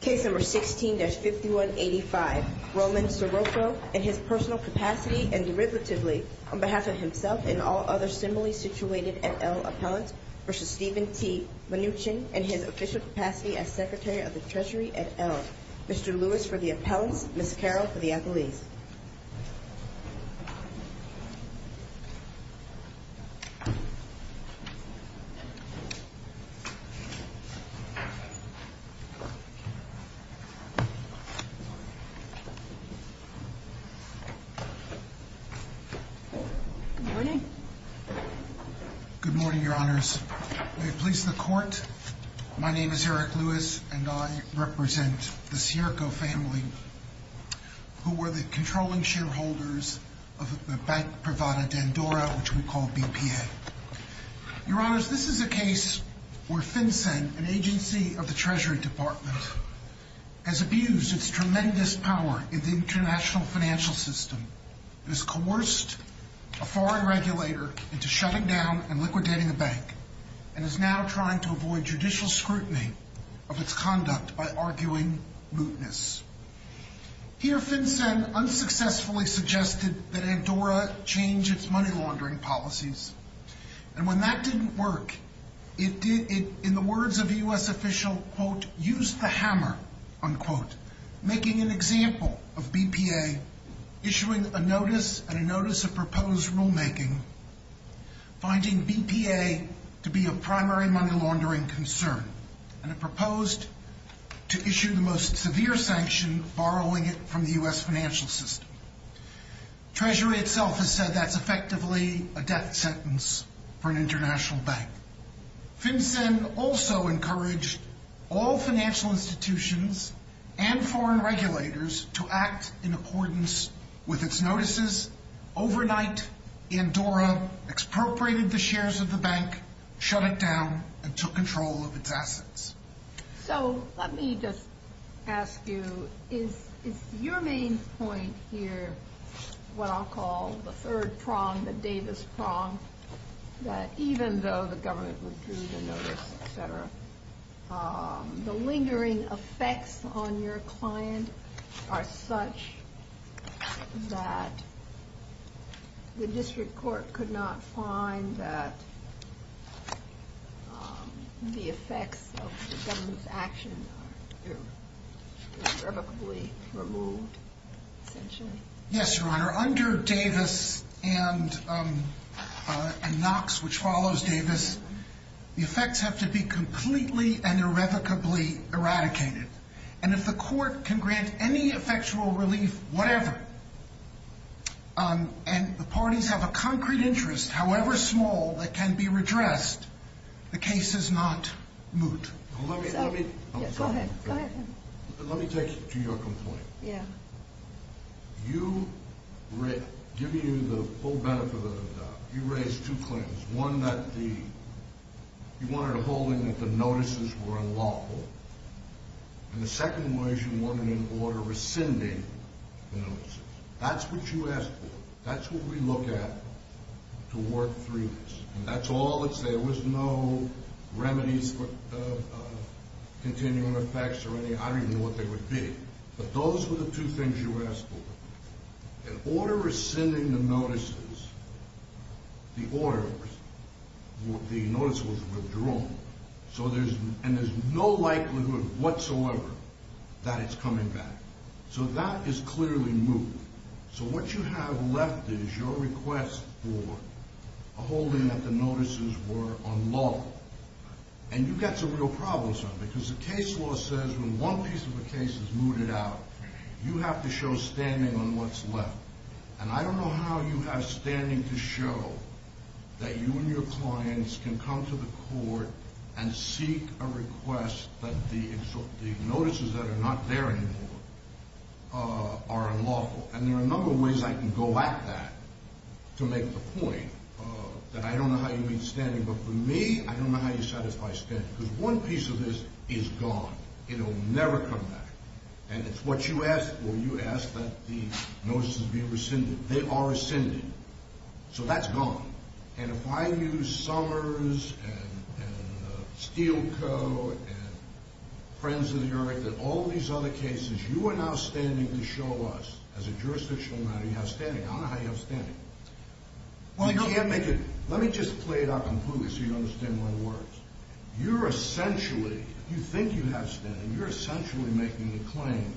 Case number 16-5185. Roman Sirocco, in his personal capacity and derivatively, on behalf of himself and all other similarly situated et al. appellants, v. Steven T. Mnuchin, in his official capacity as Secretary of the Treasury et al., Mr. Lewis for the appellants, Ms. Carroll for the appellees. Good morning. Good morning, Your Honors. May it please the Court, my name is Eric Lewis, and I represent the Sirocco family, who were the controlling shareholders of the Bank Privada d'Andorra, which we call BPA. Your Honors, this is a case where FinCEN, an agency of the Treasury Department, has abused its tremendous power in the international financial system. It has coerced a foreign regulator into shutting down and liquidating a bank, and is now trying to avoid judicial scrutiny of its conduct by arguing mootness. Here, FinCEN unsuccessfully suggested that Andorra change its money laundering policies, and when that didn't work, it did, in the words of a U.S. official, quote, use the hammer, unquote, making an example of BPA, issuing a notice and a notice of proposed rulemaking, finding BPA to be a primary money laundering concern, and it proposed to issue the most severe sanction, borrowing it from the U.S. financial system. Treasury itself has said that's effectively a death sentence for an international bank. FinCEN also encouraged all financial institutions and foreign regulators to act in accordance with its notices. Overnight, Andorra expropriated the shares of the bank, shut it down, and took control of its assets. So let me just ask you, is your main point here what I'll call the third prong, the Davis prong, that even though the government withdrew the notice, et cetera, the lingering effects on your client are such that the district court could not find that the effects of the government's actions are irrevocably removed, essentially? Yes, Your Honor. Under Davis and Knox, which follows Davis, the effects have to be completely and irrevocably eradicated. And if the court can grant any effectual relief, whatever, and the parties have a concrete interest, however small, that can be redressed, the case is not moot. Go ahead. Let me take you to your complaint. Yeah. You raised two claims, one that you wanted a holding that the notices were unlawful, and the second was you wanted an order rescinding the notices. That's what you asked for. That's what we look at to work through this. And that's all that's there. There was no remedies for continuing effects or anything. I don't even know what they would be. But those were the two things you asked for. An order rescinding the notices, the order, the notice was withdrawn. And there's no likelihood whatsoever that it's coming back. So that is clearly moot. So what you have left is your request for a holding that the notices were unlawful. And you've got some real problems, because the case law says when one piece of the case is mooted out, you have to show standing on what's left. And I don't know how you have standing to show that you and your clients can come to the court and seek a request that the notices that are not there anymore are unlawful. And there are a number of ways I can go at that to make the point that I don't know how you mean standing. But for me, I don't know how you satisfy standing, because one piece of this is gone. It will never come back. And it's what you asked for. You asked that the notices be rescinded. They are rescinded. So that's gone. And if I use Summers and Steele Co. and Friends of the Earth and all these other cases, you are now standing to show us as a jurisdictional matter you have standing. I don't know how you have standing. You can't make it. Let me just play it out completely so you understand my words. You're essentially, if you think you have standing, you're essentially making the claim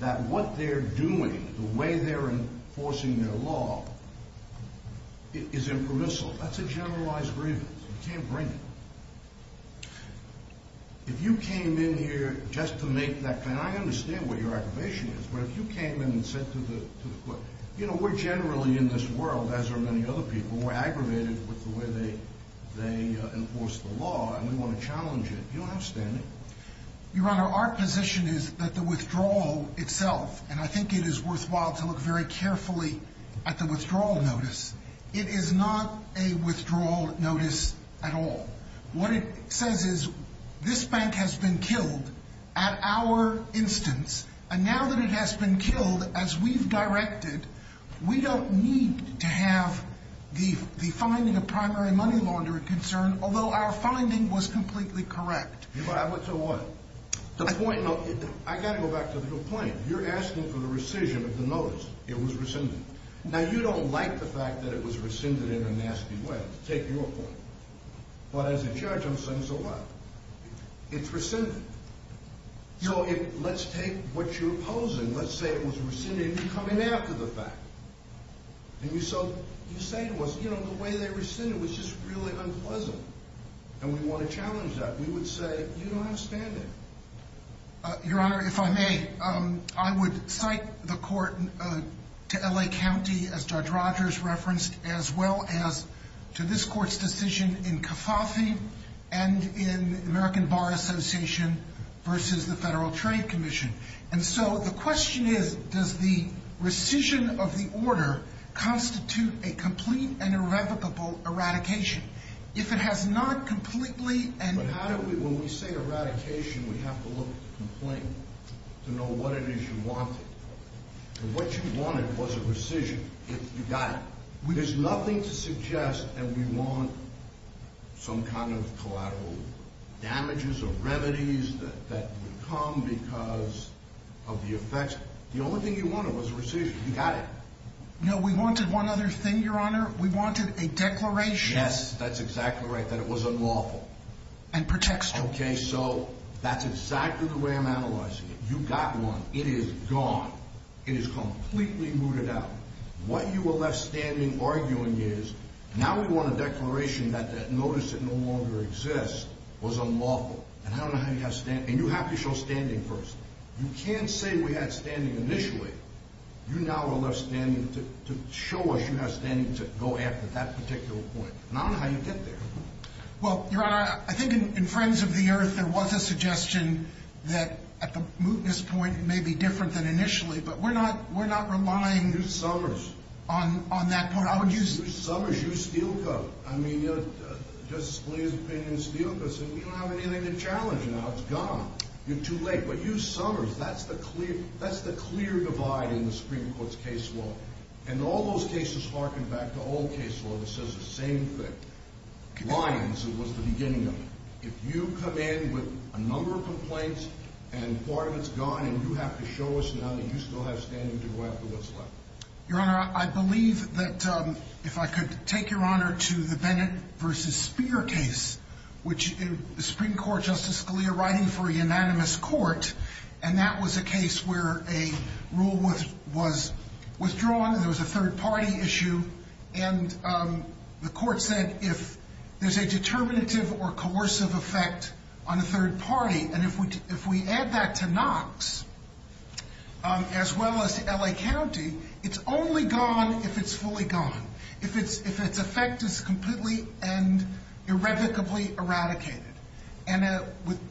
that what they're doing, the way they're enforcing their law, is impermissible. That's a generalized grievance. You can't bring it. If you came in here just to make that claim, I understand what your aggravation is, but if you came in and said to the court, you know, we're generally in this world, as are many other people, we're aggravated with the way they enforce the law, and we want to challenge it, you don't have standing. Your Honor, our position is that the withdrawal itself, and I think it is worthwhile to look very carefully at the withdrawal notice, it is not a withdrawal notice at all. What it says is this bank has been killed at our instance, and now that it has been killed as we've directed, we don't need to have the finding of primary money laundering concern, although our finding was completely correct. I went to what? I got to go back to the point. You're asking for the rescission of the notice. It was rescinded. Now, you don't like the fact that it was rescinded in a nasty way. Take your point. But as a judge, I'm saying so what? It's rescinded. So let's take what you're opposing. Let's say it was rescinded and you come in after the fact, and you say to us, you know, the way they rescinded was just really unpleasant, and we want to challenge that. We would say you don't have standing. Your Honor, if I may, I would cite the court to L.A. County, as Judge Rogers referenced, as well as to this court's decision in CFAFI and in American Bar Association versus the Federal Trade Commission. And so the question is, does the rescission of the order constitute a complete and irrevocable eradication? If it has not completely and... But how do we, when we say eradication, we have to look at the complaint to know what it is you wanted. And what you wanted was a rescission. You got it. There's nothing to suggest that we want some kind of collateral damages or remedies that would come because of the effects. The only thing you wanted was a rescission. You got it. No, we wanted one other thing, Your Honor. We wanted a declaration. Yes, that's exactly right, that it was unlawful. And protection. Okay, so that's exactly the way I'm analyzing it. You got one. It is gone. It is completely mooted out. What you were left standing arguing is, now we want a declaration that that notice that no longer exists was unlawful. And I don't know how you have standing. And you have to show standing first. You can't say we had standing initially. You now are left standing to show us you have standing to go after that particular point. And I don't know how you get there. Well, Your Honor, I think in Friends of the Earth there was a suggestion that at the mootness point it may be different than initially, but we're not relying on that point. You, Summers, you steelcoat. I mean, Justice Scalia's opinion steelcoats. And we don't have anything to challenge now. It's gone. You're too late. But you, Summers, that's the clear divide in the Supreme Court's case law. And all those cases harken back to old case law that says the same thing. Lyons was the beginning of it. If you come in with a number of complaints and part of it's gone and you have to show us now that you still have standing to go after what's left. Your Honor, I believe that if I could take Your Honor to the Bennett v. Speer case, which the Supreme Court, Justice Scalia, writing for a unanimous court, and that was a case where a rule was withdrawn. There was a third-party issue. And the court said if there's a determinative or coercive effect on a third party, and if we add that to Knox as well as to L.A. County, it's only gone if it's fully gone. If its effect is completely and irrevocably eradicated. And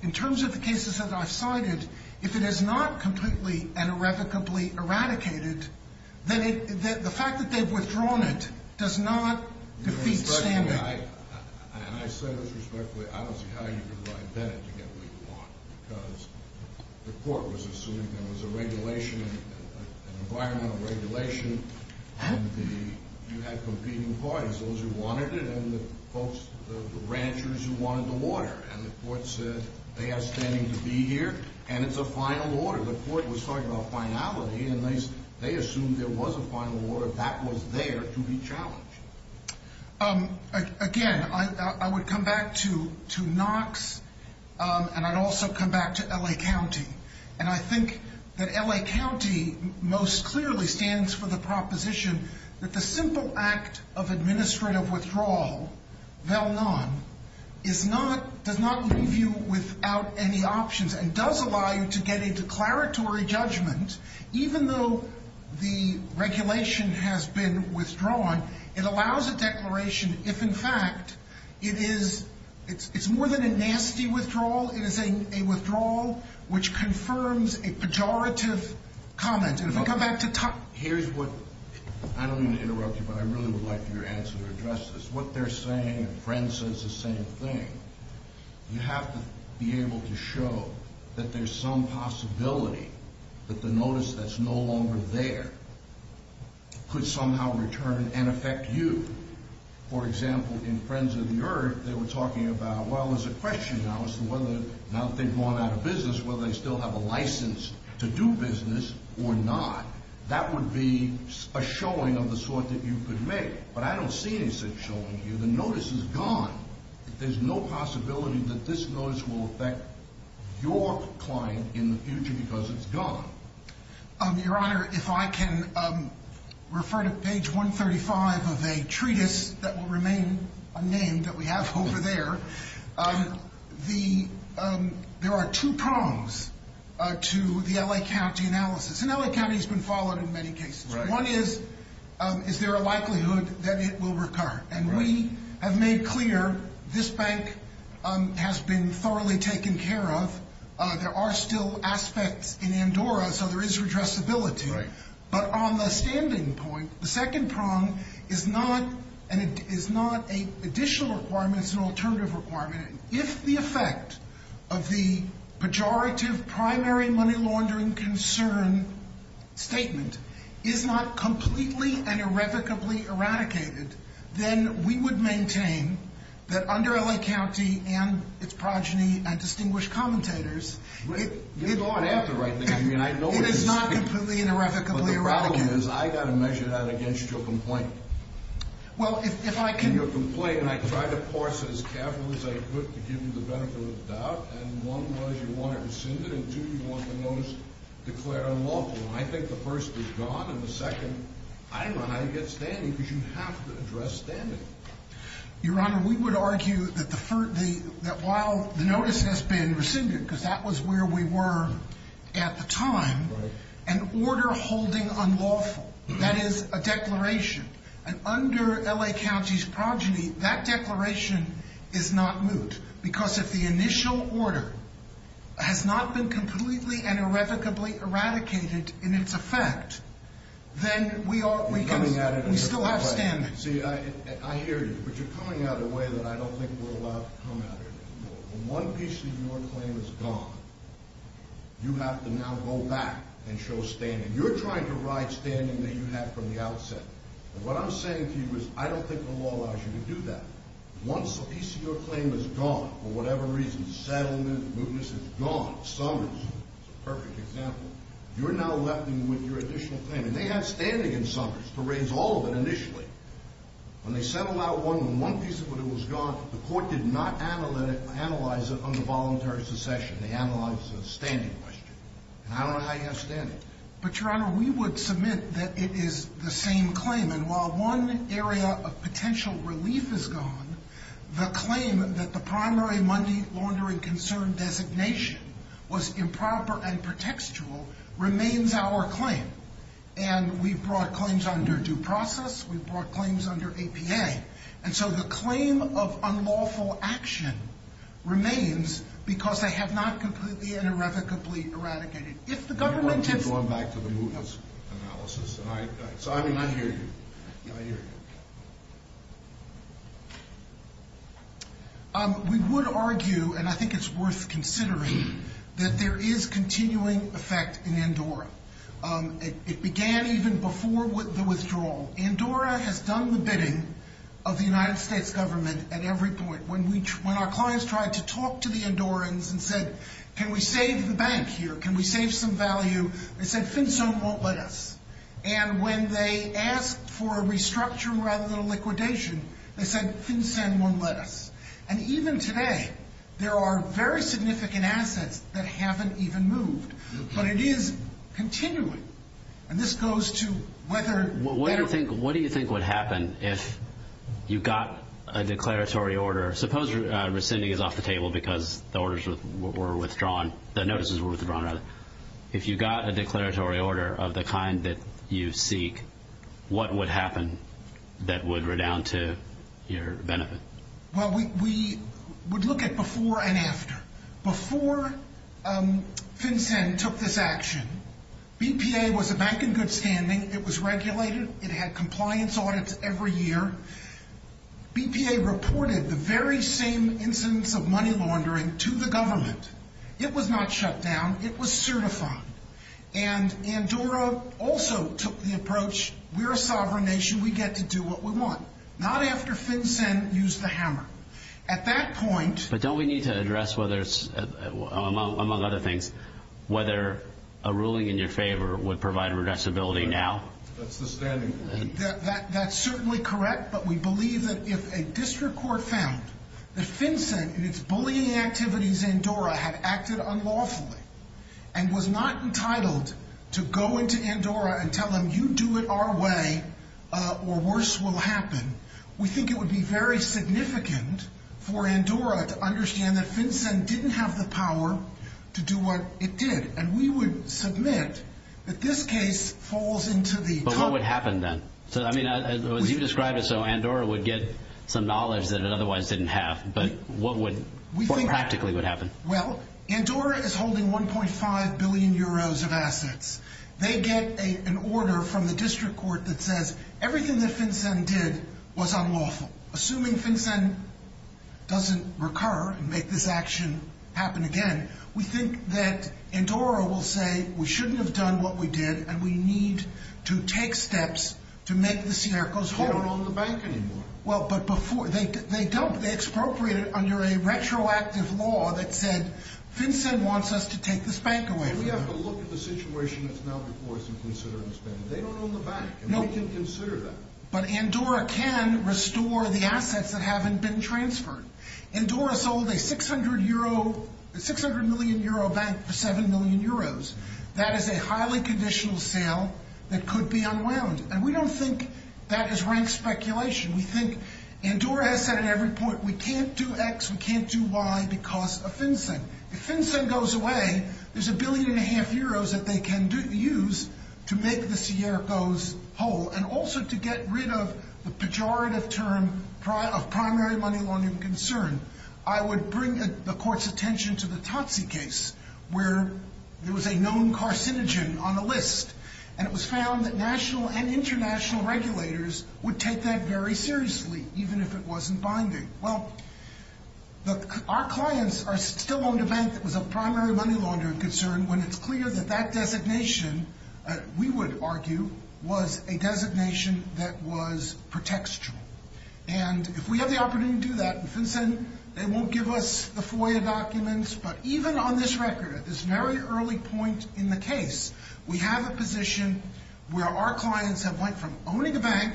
in terms of the cases that I've cited, if it is not completely and irrevocably eradicated, then the fact that they've withdrawn it does not defeat standing. And I said this respectfully, I don't see how you could write Bennett to get what you want. Because the court was assuming there was a regulation, an environmental regulation, and you had competing parties, those who wanted it and the folks, the ranchers who wanted the water. And the court said they have standing to be here and it's a final order. The court was talking about finality and they assumed there was a final order. That was there to be challenged. Again, I would come back to Knox, and I'd also come back to L.A. County. And I think that L.A. County most clearly stands for the proposition that the simple act of administrative withdrawal, VELNON, does not leave you without any options and does allow you to get a declaratory judgment even though the regulation has been withdrawn. It allows a declaration if, in fact, it is more than a nasty withdrawal. It is a withdrawal which confirms a pejorative comment. And if I go back to Tuck. Here's what, I don't mean to interrupt you, but I really would like your answer to address this. What they're saying, and Friend says the same thing, you have to be able to show that there's some possibility that the notice that's no longer there could somehow return and affect you. For example, in Friends of the Earth, they were talking about, well, there's a question now as to whether, now that they've gone out of business, whether they still have a license to do business or not. That would be a showing of the sort that you could make. But I don't see any such showing here. The notice is gone. There's no possibility that this notice will affect your client in the future because it's gone. Your Honor, if I can refer to page 135 of a treatise that will remain unnamed that we have over there. There are two prongs to the L.A. County analysis. And L.A. County has been followed in many cases. One is, is there a likelihood that it will recur? And we have made clear this bank has been thoroughly taken care of. There are still aspects in Andorra, so there is redressability. But on the standing point, the second prong is not an additional requirement. It's an alternative requirement. If the effect of the pejorative primary money laundering concern statement is not completely and irrevocably eradicated, then we would maintain that under L.A. County and its progeny and distinguished commentators, it is not completely and irrevocably eradicated. But the problem is I've got to measure that against your complaint. Well, if I can. Your complaint, and I tried to parse it as carefully as I could to give you the benefit of the doubt. And one was you want it rescinded. And two, you want the notice declared unlawful. Well, I think the first is gone, and the second, I don't know how you get standing, because you have to address standing. Your Honor, we would argue that while the notice has been rescinded, because that was where we were at the time, an order holding unlawful, that is a declaration. And under L.A. County's progeny, that declaration is not moot, because if the initial order has not been completely and irrevocably eradicated in its effect, then we still have standing. See, I hear you, but you're coming at it in a way that I don't think we're allowed to come at it. When one piece of your claim is gone, you have to now go back and show standing. You're trying to ride standing that you had from the outset. And what I'm saying to you is I don't think the law allows you to do that. Once a piece of your claim is gone, for whatever reason, settlement, mootness, it's gone, Summers is a perfect example, you're now left with your additional claim. And they had standing in Summers to raise all of it initially. When they settled out one, when one piece of it was gone, the court did not analyze it under voluntary secession. They analyzed it as a standing question. And I don't know how you have standing. But, Your Honor, we would submit that it is the same claim. And while one area of potential relief is gone, the claim that the primary money laundering concern designation was improper and pretextual remains our claim. And we've brought claims under due process. We've brought claims under APA. And so the claim of unlawful action remains because they have not completely and irrevocably eradicated it. You want to keep going back to the mootness analysis. So, I mean, I hear you. I hear you. We would argue, and I think it's worth considering, that there is continuing effect in Andorra. It began even before the withdrawal. Andorra has done the bidding of the United States government at every point. When our clients tried to talk to the Andorrans and said, can we save the bank here? Can we save some value? They said, FinCEN won't let us. And when they asked for a restructuring rather than a liquidation, they said, FinCEN won't let us. And even today, there are very significant assets that haven't even moved. But it is continuing. What do you think would happen if you got a declaratory order? Suppose rescinding is off the table because the orders were withdrawn, the notices were withdrawn, rather. If you got a declaratory order of the kind that you seek, what would happen that would redound to your benefit? Well, we would look at before and after. Before FinCEN took this action, BPA was a bank in good standing. It was regulated. It had compliance audits every year. BPA reported the very same incidents of money laundering to the government. It was not shut down. It was certified. And Andorra also took the approach, we're a sovereign nation. We get to do what we want. Not after FinCEN used the hammer. But don't we need to address, among other things, whether a ruling in your favor would provide redressability now? That's the standing. That's certainly correct. But we believe that if a district court found that FinCEN and its bullying activities in Andorra had acted unlawfully and was not entitled to go into Andorra and tell them, you do it our way or worse will happen, we think it would be very significant for Andorra to understand that FinCEN didn't have the power to do what it did. And we would submit that this case falls into the top. But what would happen then? I mean, as you describe it, so Andorra would get some knowledge that it otherwise didn't have. But what practically would happen? Well, Andorra is holding 1.5 billion euros of assets. They get an order from the district court that says everything that FinCEN did was unlawful. Assuming FinCEN doesn't recur and make this action happen again, we think that Andorra will say we shouldn't have done what we did and we need to take steps to make the Siercos whole. They don't own the bank anymore. Well, but before, they expropriated under a retroactive law that said FinCEN wants us to take this bank away from them. We have to look at the situation that's now before us and consider it. They don't own the bank and we can consider that. But Andorra can restore the assets that haven't been transferred. Andorra sold a 600 million euro bank for 7 million euros. That is a highly conditional sale that could be unwound. And we don't think that is rank speculation. We think Andorra has said at every point we can't do X, we can't do Y because of FinCEN. If FinCEN goes away, there's a billion and a half euros that they can use to make the Siercos whole and also to get rid of the pejorative term of primary money laundering concern. I would bring the court's attention to the Totsi case where there was a known carcinogen on the list and it was found that national and international regulators would take that very seriously even if it wasn't binding. Well, our clients are still owned a bank that was a primary money laundering concern when it's clear that that designation, we would argue, was a designation that was pretextual. And if we have the opportunity to do that, FinCEN, they won't give us the FOIA documents. But even on this record, at this very early point in the case, we have a position where our clients have went from owning a bank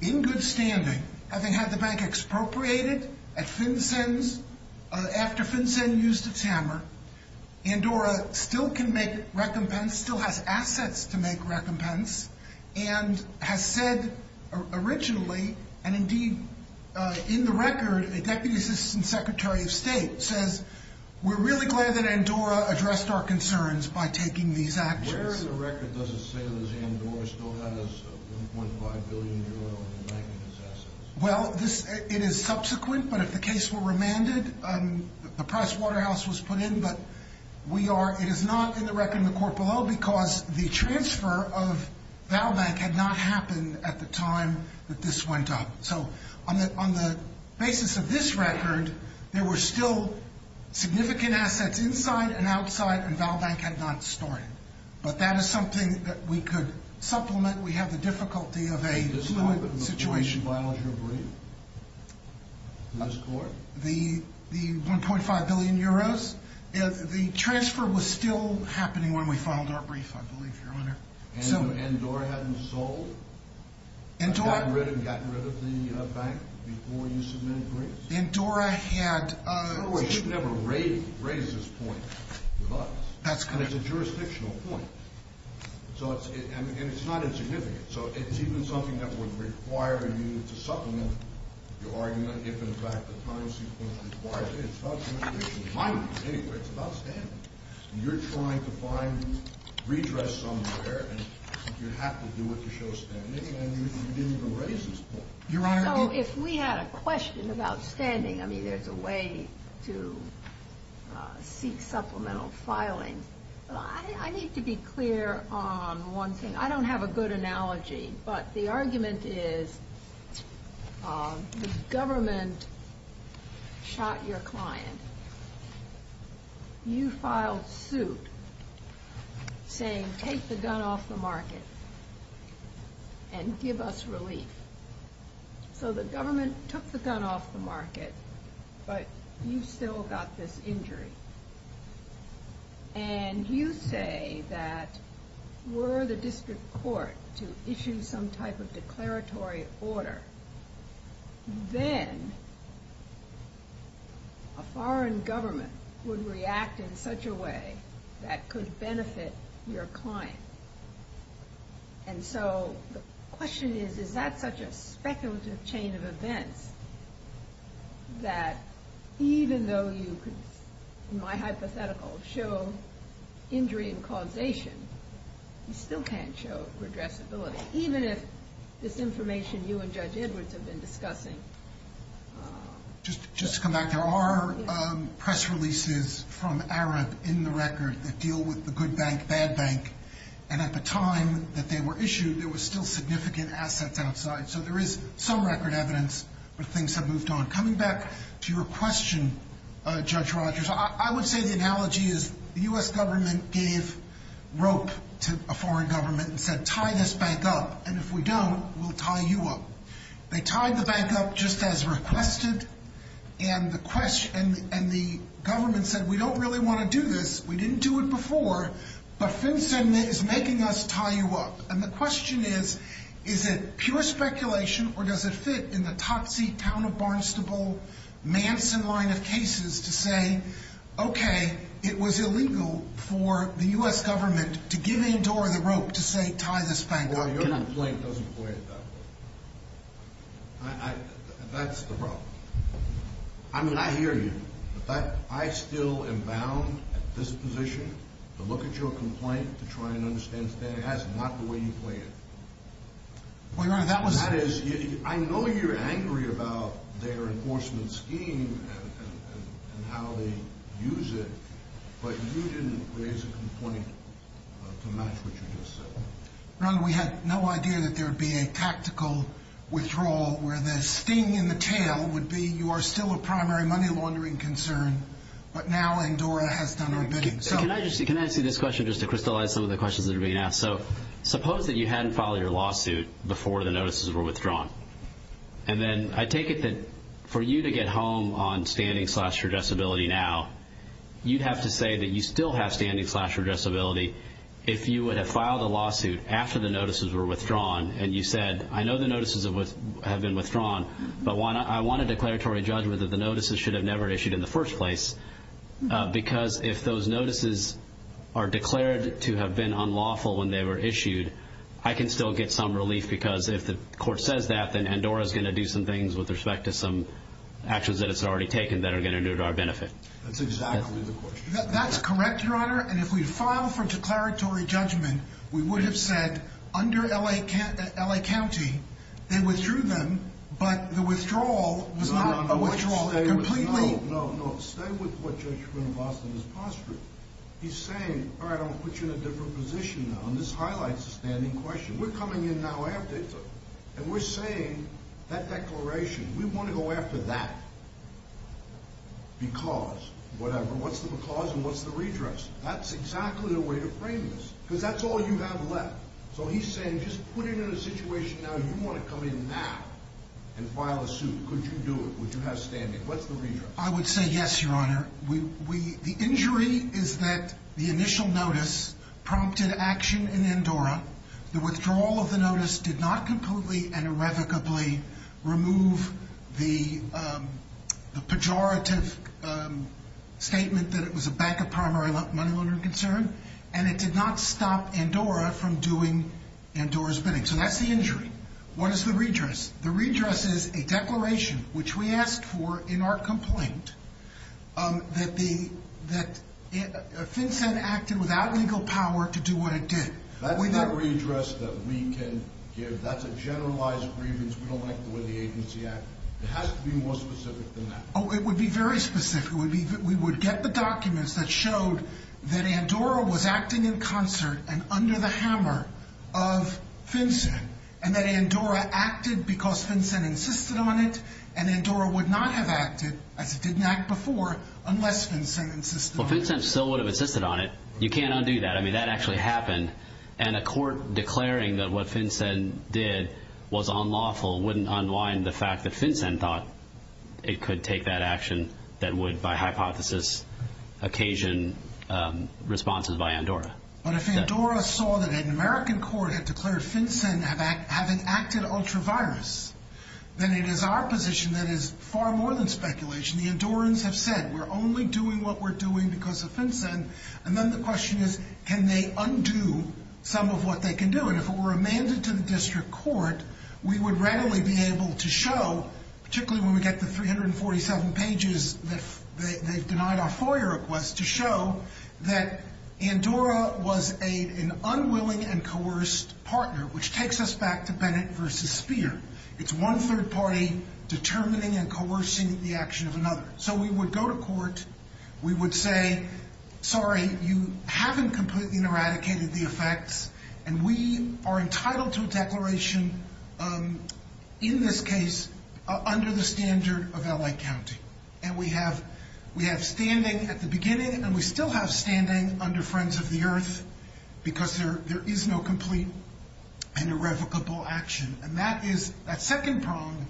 in good standing, having had the bank expropriated at FinCEN's, after FinCEN used its hammer. Andorra still can make recompense, still has assets to make recompense, and has said originally, and indeed in the record, a Deputy Assistant Secretary of State says, we're really glad that Andorra addressed our concerns by taking these actions. Where in the record does it say that Andorra still has $1.5 billion in the bank and its assets? Well, it is subsequent, but if the case were remanded, the Pricewaterhouse was put in, but we are, it is not in the record in the court below because the transfer of ValBank had not happened at the time that this went up. So on the basis of this record, there were still significant assets inside and outside and ValBank had not started. But that is something that we could supplement. We have the difficulty of a limited situation. Does this happen before she files her brief to this court? The 1.5 billion euros? The transfer was still happening when we filed our brief, I believe, Your Honor. And Andorra hadn't sold, gotten rid of the bank before you submitted briefs? Andorra had. She would never raise this point with us. That's correct. It's a jurisdictional point. And it's not insignificant. So it's even something that would require you to supplement your argument if, in fact, the time sequence requires it. It's about the administration's mind anyway. It's about standing. You're trying to find redress somewhere, and you have to do it to show standing, and you didn't even raise this point. So if we had a question about standing, I mean, there's a way to seek supplemental filing. I need to be clear on one thing. I don't have a good analogy, but the argument is the government shot your client. You filed suit saying, take the gun off the market and give us relief. So the government took the gun off the market, but you still got this injury. And you say that were the district court to issue some type of declaratory order, then a foreign government would react in such a way that could benefit your client. And so the question is, is that such a speculative chain of events that even though you could, in my hypothetical, show injury and causation, you still can't show redressability, even if this information you and Judge Edwards have been discussing. Just to come back, there are press releases from Arab in the record that deal with the good bank, bad bank. And at the time that they were issued, there was still significant assets outside. So there is some record evidence that things have moved on. Coming back to your question, Judge Rogers, I would say the analogy is the U.S. government gave rope to a foreign government and said, tie this bank up. And if we don't, we'll tie you up. They tied the bank up just as requested. And the government said, we don't really want to do this. We didn't do it before. But FinCEN is making us tie you up. And the question is, is it pure speculation or does it fit in the Totsie, town of Barnstable, Manson line of cases to say, okay, it was illegal for the U.S. government to give in to the rope to say, tie this bank up. Your complaint doesn't play it that way. That's the problem. I mean, I hear you. But I still am bound at this position to look at your complaint to try and understand. That's not the way you play it. I know you're angry about their enforcement scheme and how they use it, but you didn't raise a complaint to match what you just said. Ron, we had no idea that there would be a tactical withdrawal where the sting in the tail would be you are still a primary money laundering concern, but now Andorra has done our bidding. Can I just ask you this question just to crystallize some of the questions that are being asked? So suppose that you hadn't filed your lawsuit before the notices were withdrawn. And then I take it that for you to get home on standing slash redressability now, you'd have to say that you still have standing slash redressability. If you would have filed a lawsuit after the notices were withdrawn and you said, I know the notices have been withdrawn, but I want a declaratory judgment that the notices should have never issued in the first place. Because if those notices are declared to have been unlawful when they were issued, I can still get some relief. Because if the court says that, then Andorra is going to do some things with respect to some actions that it's already taken that are going to do to our benefit. That's exactly the question. That's correct, Your Honor. And if we file for declaratory judgment, we would have said under L.A. County, they withdrew them. But the withdrawal was not a withdrawal. Completely. No, no, no. Stay with what you're going to Boston is posturing. He's saying, all right, I'll put you in a different position on this highlights a standing question. We're coming in now after and we're saying that declaration. We want to go after that. Because whatever. What's the cause? And what's the redress? That's exactly the way to frame this, because that's all you have left. So he's saying, just put it in a situation. Now you want to come in now and file a suit. Could you do it? Would you have standing? What's the reason? I would say yes, Your Honor. We the injury is that the initial notice prompted action in Andorra. The withdrawal of the notice did not completely and irrevocably remove the pejorative statement that it was a backup primary money loaner concern. And it did not stop Andorra from doing Andorra's bidding. So that's the injury. What is the redress? The redress is a declaration, which we asked for in our complaint, that the that FinCEN acted without legal power to do what it did. That's the redress that we can give. That's a generalized grievance. We don't like the way the agency acted. It has to be more specific than that. Oh, it would be very specific. We would get the documents that showed that Andorra was acting in concert and under the hammer of FinCEN. And that Andorra acted because FinCEN insisted on it. And Andorra would not have acted as it didn't act before unless FinCEN insisted on it. Well, FinCEN still would have insisted on it. You can't undo that. I mean, that actually happened. And a court declaring that what FinCEN did was unlawful wouldn't unwind the fact that FinCEN thought it could take that action that would, by hypothesis, occasion responses by Andorra. But if Andorra saw that an American court had declared FinCEN have an active ultra virus, then it is our position that is far more than speculation. The Andorrans have said we're only doing what we're doing because of FinCEN. And then the question is can they undo some of what they can do? And if it were amended to the district court, we would readily be able to show, particularly when we get the 347 pages that they've denied our FOIA request, to show that Andorra was an unwilling and coerced partner, which takes us back to Bennett v. Speer. It's one third party determining and coercing the action of another. So we would go to court, we would say, sorry, you haven't completely eradicated the effects, and we are entitled to a declaration in this case under the standard of L.A. County. And we have standing at the beginning, and we still have standing under Friends of the Earth, because there is no complete and irrevocable action. And that second prong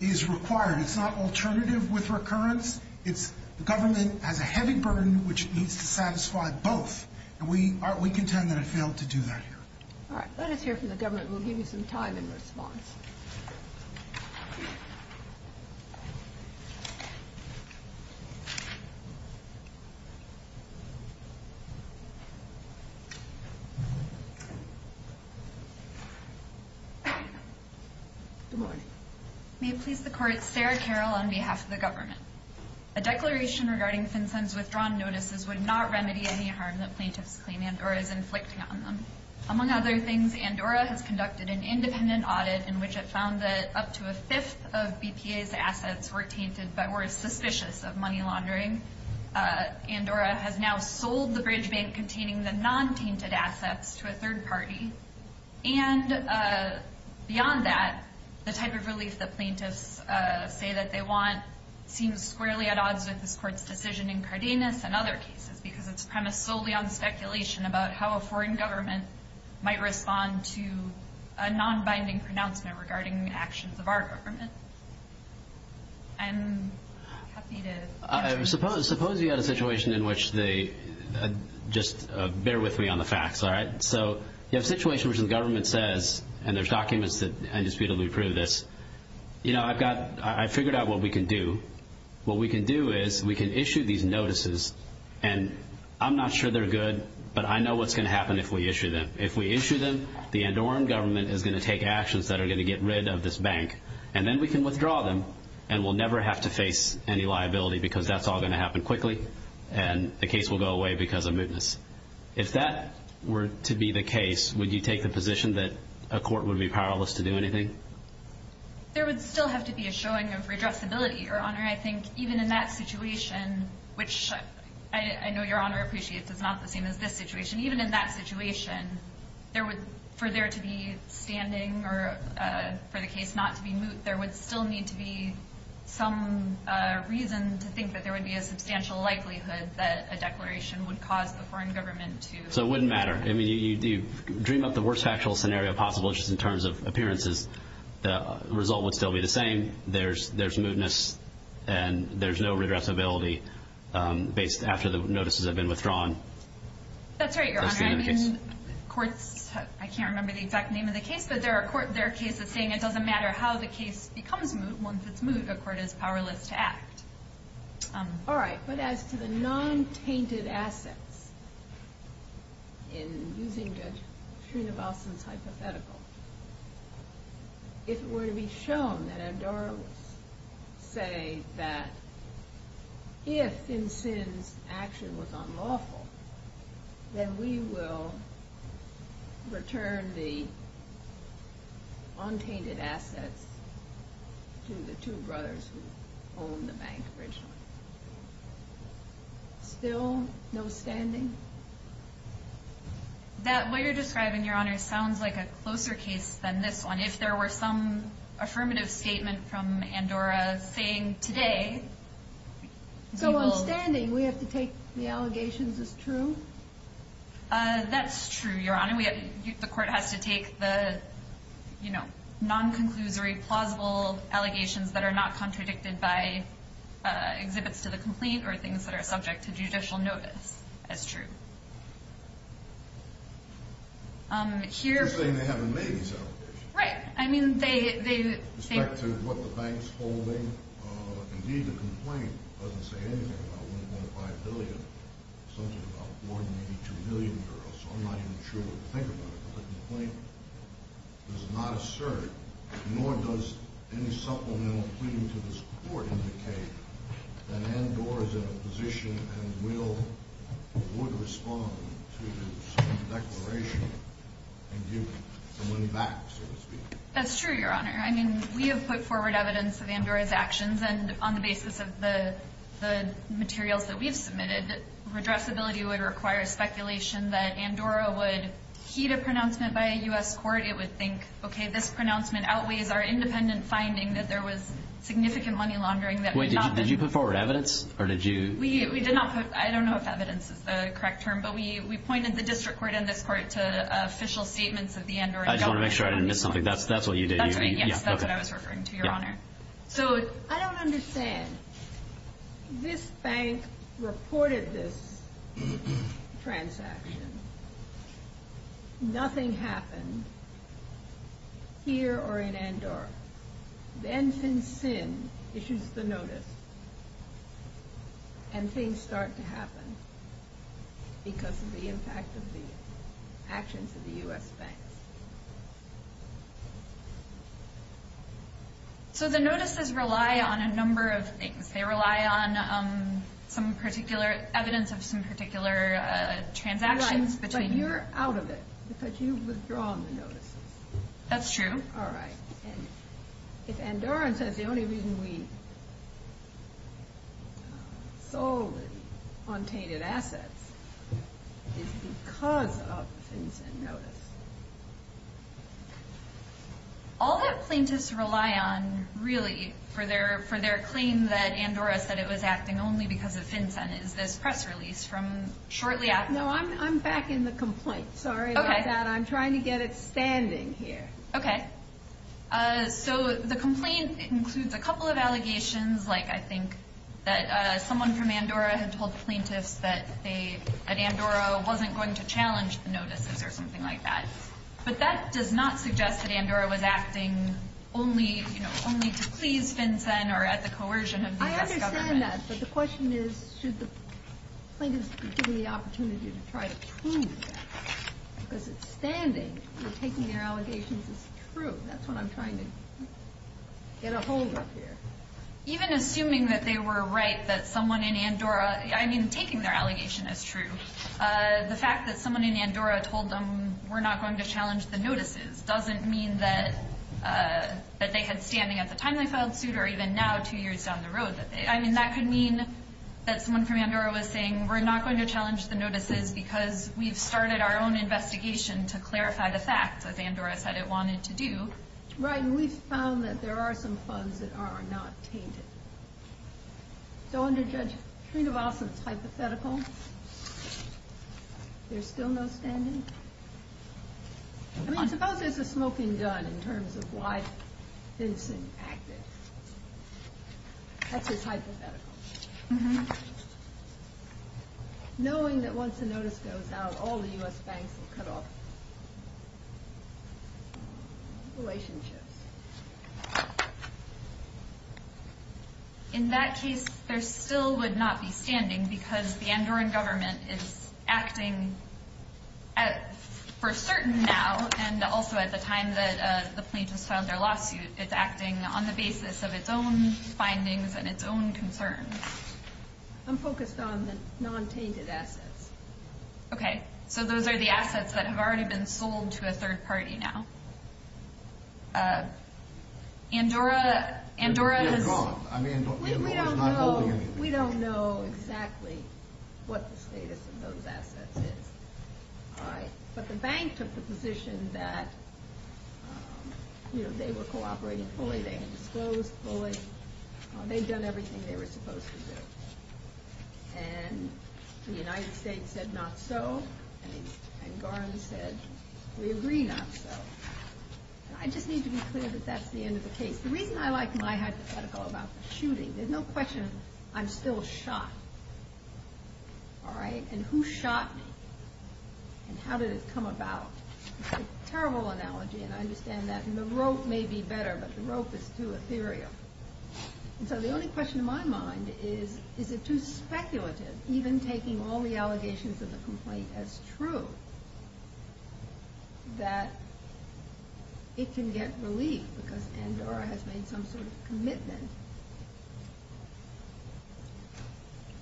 is required. It's not alternative with recurrence. It's the government has a heavy burden which needs to satisfy both. And we contend that it failed to do that here. All right. Let us hear from the government. We'll give you some time in response. Good morning. May it please the Court, Sarah Carroll on behalf of the government. A declaration regarding FinCEN's withdrawn notices would not remedy any harm that plaintiffs claim Andorra is inflicting on them. Among other things, Andorra has conducted an independent audit in which it found that up to a fifth of BPA's assets were tainted but were suspicious of money laundering. Andorra has now sold the bridge bank containing the non-tainted assets to a third party. And beyond that, the type of relief that plaintiffs say that they want seems squarely at odds with this Court's decision in Cardenas and other cases because it's premised solely on speculation about how a foreign government might respond to a non-binding pronouncement regarding the actions of our government. I'm happy to answer. Suppose you had a situation in which they – just bear with me on the facts, all right? So you have a situation in which the government says, and there's documents that indisputably prove this, you know, I've got – I figured out what we can do. What we can do is we can issue these notices, and I'm not sure they're good, but I know what's going to happen if we issue them. If we issue them, the Andorran government is going to take actions that are going to get rid of this bank, and then we can withdraw them, and we'll never have to face any liability because that's all going to happen quickly, and the case will go away because of mootness. If that were to be the case, would you take the position that a court would be powerless to do anything? There would still have to be a showing of redressability, Your Honor. I think even in that situation, which I know Your Honor appreciates is not the same as this situation. Even in that situation, there would – for there to be standing or for the case not to be moot, there would still need to be some reason to think that there would be a substantial likelihood that a declaration would cause the foreign government to withdraw. So it wouldn't matter. I mean, you dream up the worst factual scenario possible just in terms of appearances. The result would still be the same. There's mootness, and there's no redressability after the notices have been withdrawn. That's right, Your Honor. I mean, courts – I can't remember the exact name of the case, but there are cases saying it doesn't matter how the case becomes moot. Once it's moot, a court is powerless to act. All right. But as to the non-tainted assets, in using Judge Srinivasan's hypothetical, if it were to be shown that Andorra would say that if Thinsen's action was unlawful, then we will return the untainted assets to the two brothers who owned the bank originally. Still no standing? That way you're describing, Your Honor, sounds like a closer case than this one. If there were some affirmative statement from Andorra saying today – So on standing, we have to take the allegations as true? That's true, Your Honor. The court has to take the non-conclusory, plausible allegations that are not contradicted by exhibits to the complaint or things that are subject to judicial notice as true. You're saying they haven't made these allegations. Right. With respect to what the bank's holding, indeed the complaint doesn't say anything about 1.5 billion, something about more than 82 million euros, so I'm not even sure what to think about it. But the complaint does not assert, nor does any supplemental pleading to this court indicate, that Andorra is in a position and will – would respond to this declaration and give the money back, so to speak. That's true, Your Honor. I mean, we have put forward evidence of Andorra's actions, and on the basis of the materials that we've submitted, redressability would require speculation that Andorra would heed a pronouncement by a U.S. court. It would think, okay, this pronouncement outweighs our independent finding that there was significant money laundering that was not – Wait, did you put forward evidence, or did you – We did not put – I don't know if evidence is the correct term, but we pointed the district court and this court to official statements of the Andorran government. I just want to make sure I didn't miss something. That's what you did. That's right, yes. That's what I was referring to, Your Honor. So I don't understand. This bank reported this transaction. Nothing happened here or in Andorra. Then FinCEN issues the notice, and things start to happen because of the impact of the actions of the U.S. banks. So the notices rely on a number of things. They rely on some particular – evidence of some particular transactions between – Right, but you're out of it because you've withdrawn the notices. That's true. All right. If Andorran says the only reason we sold and obtained its assets is because of FinCEN notice, all the plaintiffs rely on, really, for their claim that Andorra said it was acting only because of FinCEN is this press release from shortly after – No, I'm back in the complaint. Sorry about that. Okay. I'm trying to get it standing here. Okay. So the complaint includes a couple of allegations, like I think that someone from Andorra had told plaintiffs that Andorra wasn't going to challenge the notices or something like that. But that does not suggest that Andorra was acting only to please FinCEN or at the coercion of the U.S. government. I understand that, but the question is should the plaintiffs be given the opportunity to try to prove that? Because it's standing that taking their allegations is true. That's what I'm trying to get a hold of here. Even assuming that they were right that someone in Andorra – I mean, taking their allegation as true, the fact that someone in Andorra told them we're not going to challenge the notices doesn't mean that they had standing at the time they filed suit or even now two years down the road. I mean, that could mean that someone from Andorra was saying we're not going to challenge the notices because we've started our own investigation to clarify the facts, as Andorra said it wanted to do. Right, and we've found that there are some funds that are not tainted. So under Judge Trinovasa's hypothetical, there's still no standing? I mean, suppose there's a smoking gun in terms of why FinCEN acted. That's his hypothetical. Mm-hmm. Knowing that once a notice goes out, all the U.S. banks will cut off relationships. In that case, there still would not be standing because the Andorran government is acting for certain now and also at the time that the plaintiffs filed their lawsuit, it's acting on the basis of its own findings and its own concerns. I'm focused on the non-tainted assets. Okay, so those are the assets that have already been sold to a third party now. Andorra has- They're gone. We don't know exactly what the status of those assets is. All right, but the bank took the position that, you know, they were cooperating fully. They had disclosed fully. They'd done everything they were supposed to do. And the United States said not so. And Garland said, we agree not so. I just need to be clear that that's the end of the case. The reason I like my hypothetical about the shooting, there's no question I'm still shot. All right? And who shot me? And how did it come about? It's a terrible analogy, and I understand that. And the rope may be better, but the rope is too ethereal. And so the only question in my mind is, is it too speculative, even taking all the allegations of the complaint as true, that it can get relief because Andorra has made some sort of commitment?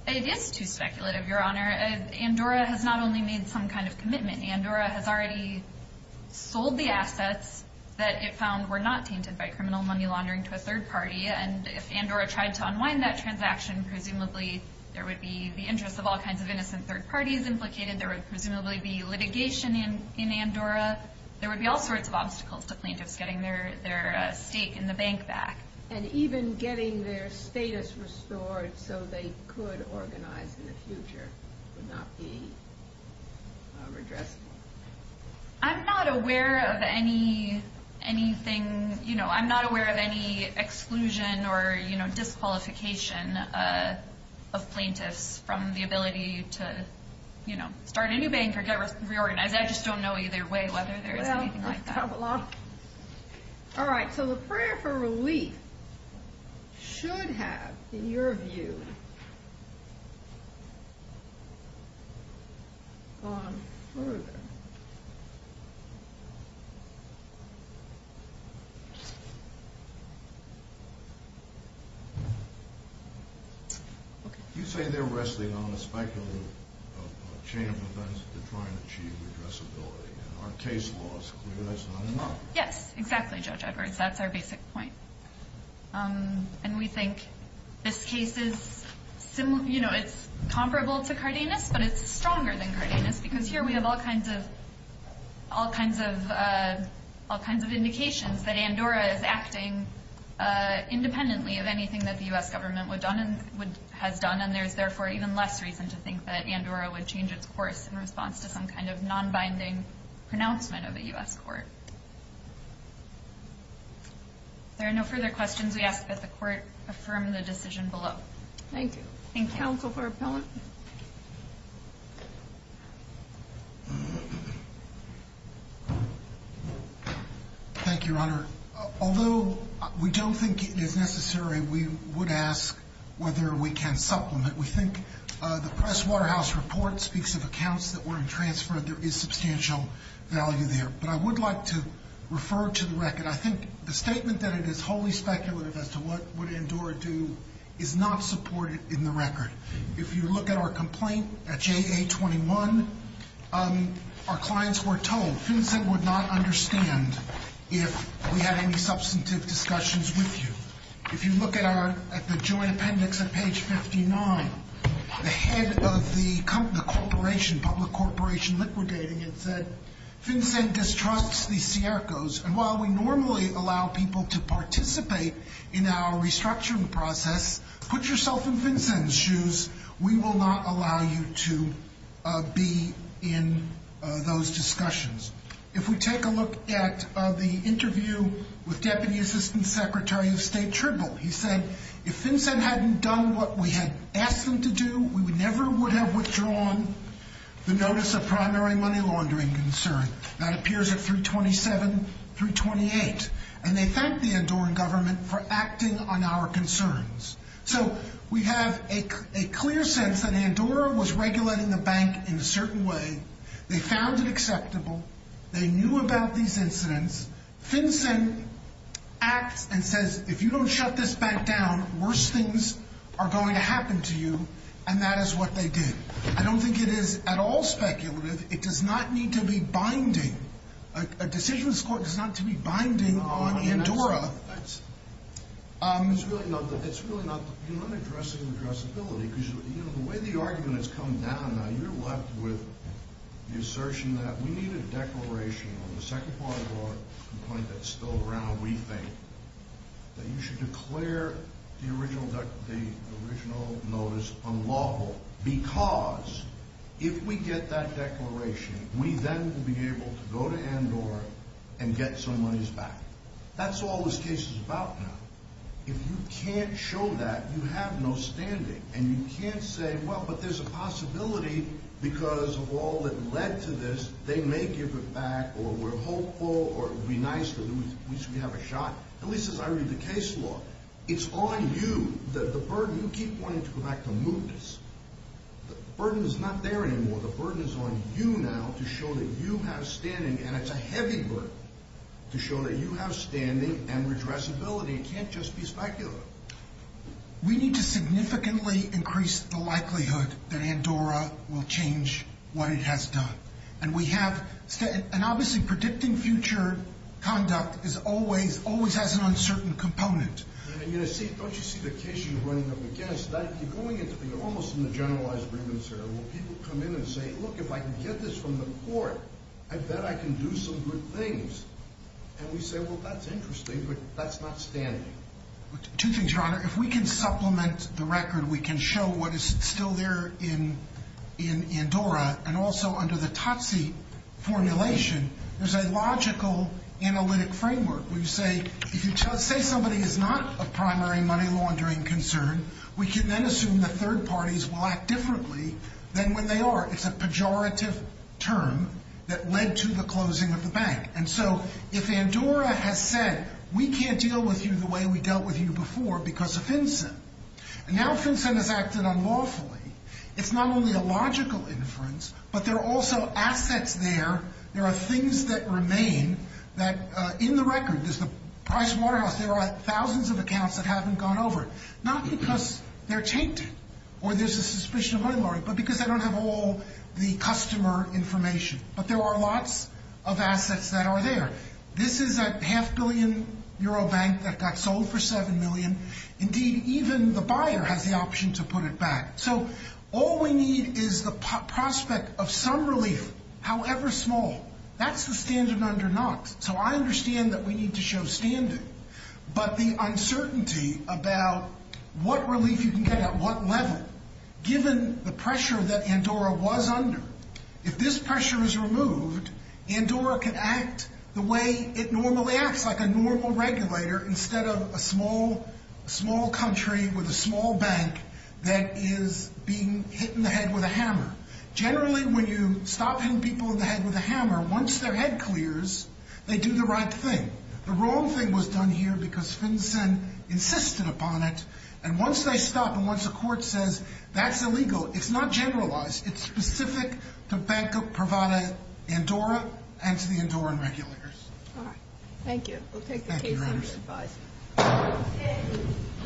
It is too speculative, Your Honor. Andorra has not only made some kind of commitment. Andorra has already sold the assets that it found were not tainted by criminal money laundering to a third party. And if Andorra tried to unwind that transaction, presumably there would be the interests of all kinds of innocent third parties implicated. There would presumably be litigation in Andorra. There would be all sorts of obstacles to plaintiffs getting their stake in the bank back. And even getting their status restored so they could organize in the future would not be redressed? I'm not aware of any exclusion or disqualification of plaintiffs from the ability to start a new bank or get reorganized. I just don't know either way whether there is anything like that. All right, so the prayer for relief should have, in your view, gone further. You say they're resting on a speculative chain of events to try and achieve redressability. Our case law is clear that's not enough. Yes, exactly, Judge Edwards. That's our basic point. And we think this case is comparable to Cardenas, but it's stronger than Cardenas. Because here we have all kinds of indications that Andorra is acting independently of anything that the U.S. government has done. And there's therefore even less reason to think that Andorra would change its course in response to some kind of non-binding pronouncement of a U.S. court. If there are no further questions, we ask that the court affirm the decision below. Thank you. Thank you. Thank you, Your Honor. Although we don't think it is necessary, we would ask whether we can supplement. We think the Press-Waterhouse Report speaks of accounts that were in transfer. There is substantial value there. But I would like to refer to the record. I think the statement that it is wholly speculative as to what would Andorra do is not supported in the record. If you look at our complaint at JA-21, our clients were told FinCEN would not understand if we had any substantive discussions with you. If you look at the joint appendix at page 59, the head of the corporation, public corporation liquidating it, said FinCEN distrusts the Siercos. And while we normally allow people to participate in our restructuring process, put yourself in FinCEN's shoes. We will not allow you to be in those discussions. If we take a look at the interview with Deputy Assistant Secretary of State Tribble, he said, if FinCEN hadn't done what we had asked them to do, we never would have withdrawn the notice of primary money laundering concern. That appears at 327-328. And they thanked the Andorran government for acting on our concerns. So we have a clear sense that Andorra was regulating the bank in a certain way. They found it acceptable. They knew about these incidents. FinCEN acts and says, if you don't shut this bank down, worse things are going to happen to you. And that is what they did. I don't think it is at all speculative. It does not need to be binding. A decisions court does not need to be binding on Andorra. It is really not addressing addressability, because the way the argument has come down, you are left with the assertion that we need a declaration on the second part of our complaint that is still around, we think, that you should declare the original notice unlawful, because if we get that declaration, we then will be able to go to Andorra and get some monies back. That is all this case is about now. If you can't show that, you have no standing. And you can't say, well, but there is a possibility, because of all that led to this, they may give it back, or we are hopeful, or it would be nice, or at least we have a shot. At least as I read the case law, it is on you, the burden. You keep wanting to go back to movements. The burden is not there anymore. The burden is on you now to show that you have standing, and it is a heavy burden, to show that you have standing and addressability. It can't just be specular. We need to significantly increase the likelihood that Andorra will change what it has done. And obviously predicting future conduct always has an uncertain component. Don't you see the case you are running up against? You are almost in the generalized grievance area, where people come in and say, look, if I can get this from the court, I bet I can do some good things. And we say, well, that is interesting, but that is not standing. Two things, Your Honor. If we can supplement the record, we can show what is still there in Andorra, and also under the TOTSI formulation, there is a logical analytic framework. If you say somebody is not a primary money laundering concern, we can then assume the third parties will act differently than when they are. It is a pejorative term that led to the closing of the bank. And so if Andorra has said, we can't deal with you the way we dealt with you before because of FinCEN, and now FinCEN has acted unlawfully, it is not only a logical inference, but there are also assets there. There are things that remain, that in the record, there is the Price Waterhouse, there are thousands of accounts that haven't gone over it. Not because they are tainted, or there is a suspicion of money laundering, but because they don't have all the customer information. But there are lots of assets that are there. This is a half billion euro bank that got sold for seven million. Indeed, even the buyer has the option to put it back. So all we need is the prospect of some relief, however small. That's the standard under Knox. So I understand that we need to show standing. But the uncertainty about what relief you can get at what level, given the pressure that Andorra was under, if this pressure is removed, Andorra can act the way it normally acts, like a normal regulator, instead of a small country with a small bank that is being hit in the head with a hammer. Generally, when you stop hitting people in the head with a hammer, once their head clears, they do the right thing. The wrong thing was done here because FinCEN insisted upon it, and once they stop and once the court says that's illegal, it's not generalized. It's specific to Banco Privada Andorra and to the Andorran regulators. All right. Thank you. We'll take the case under revise.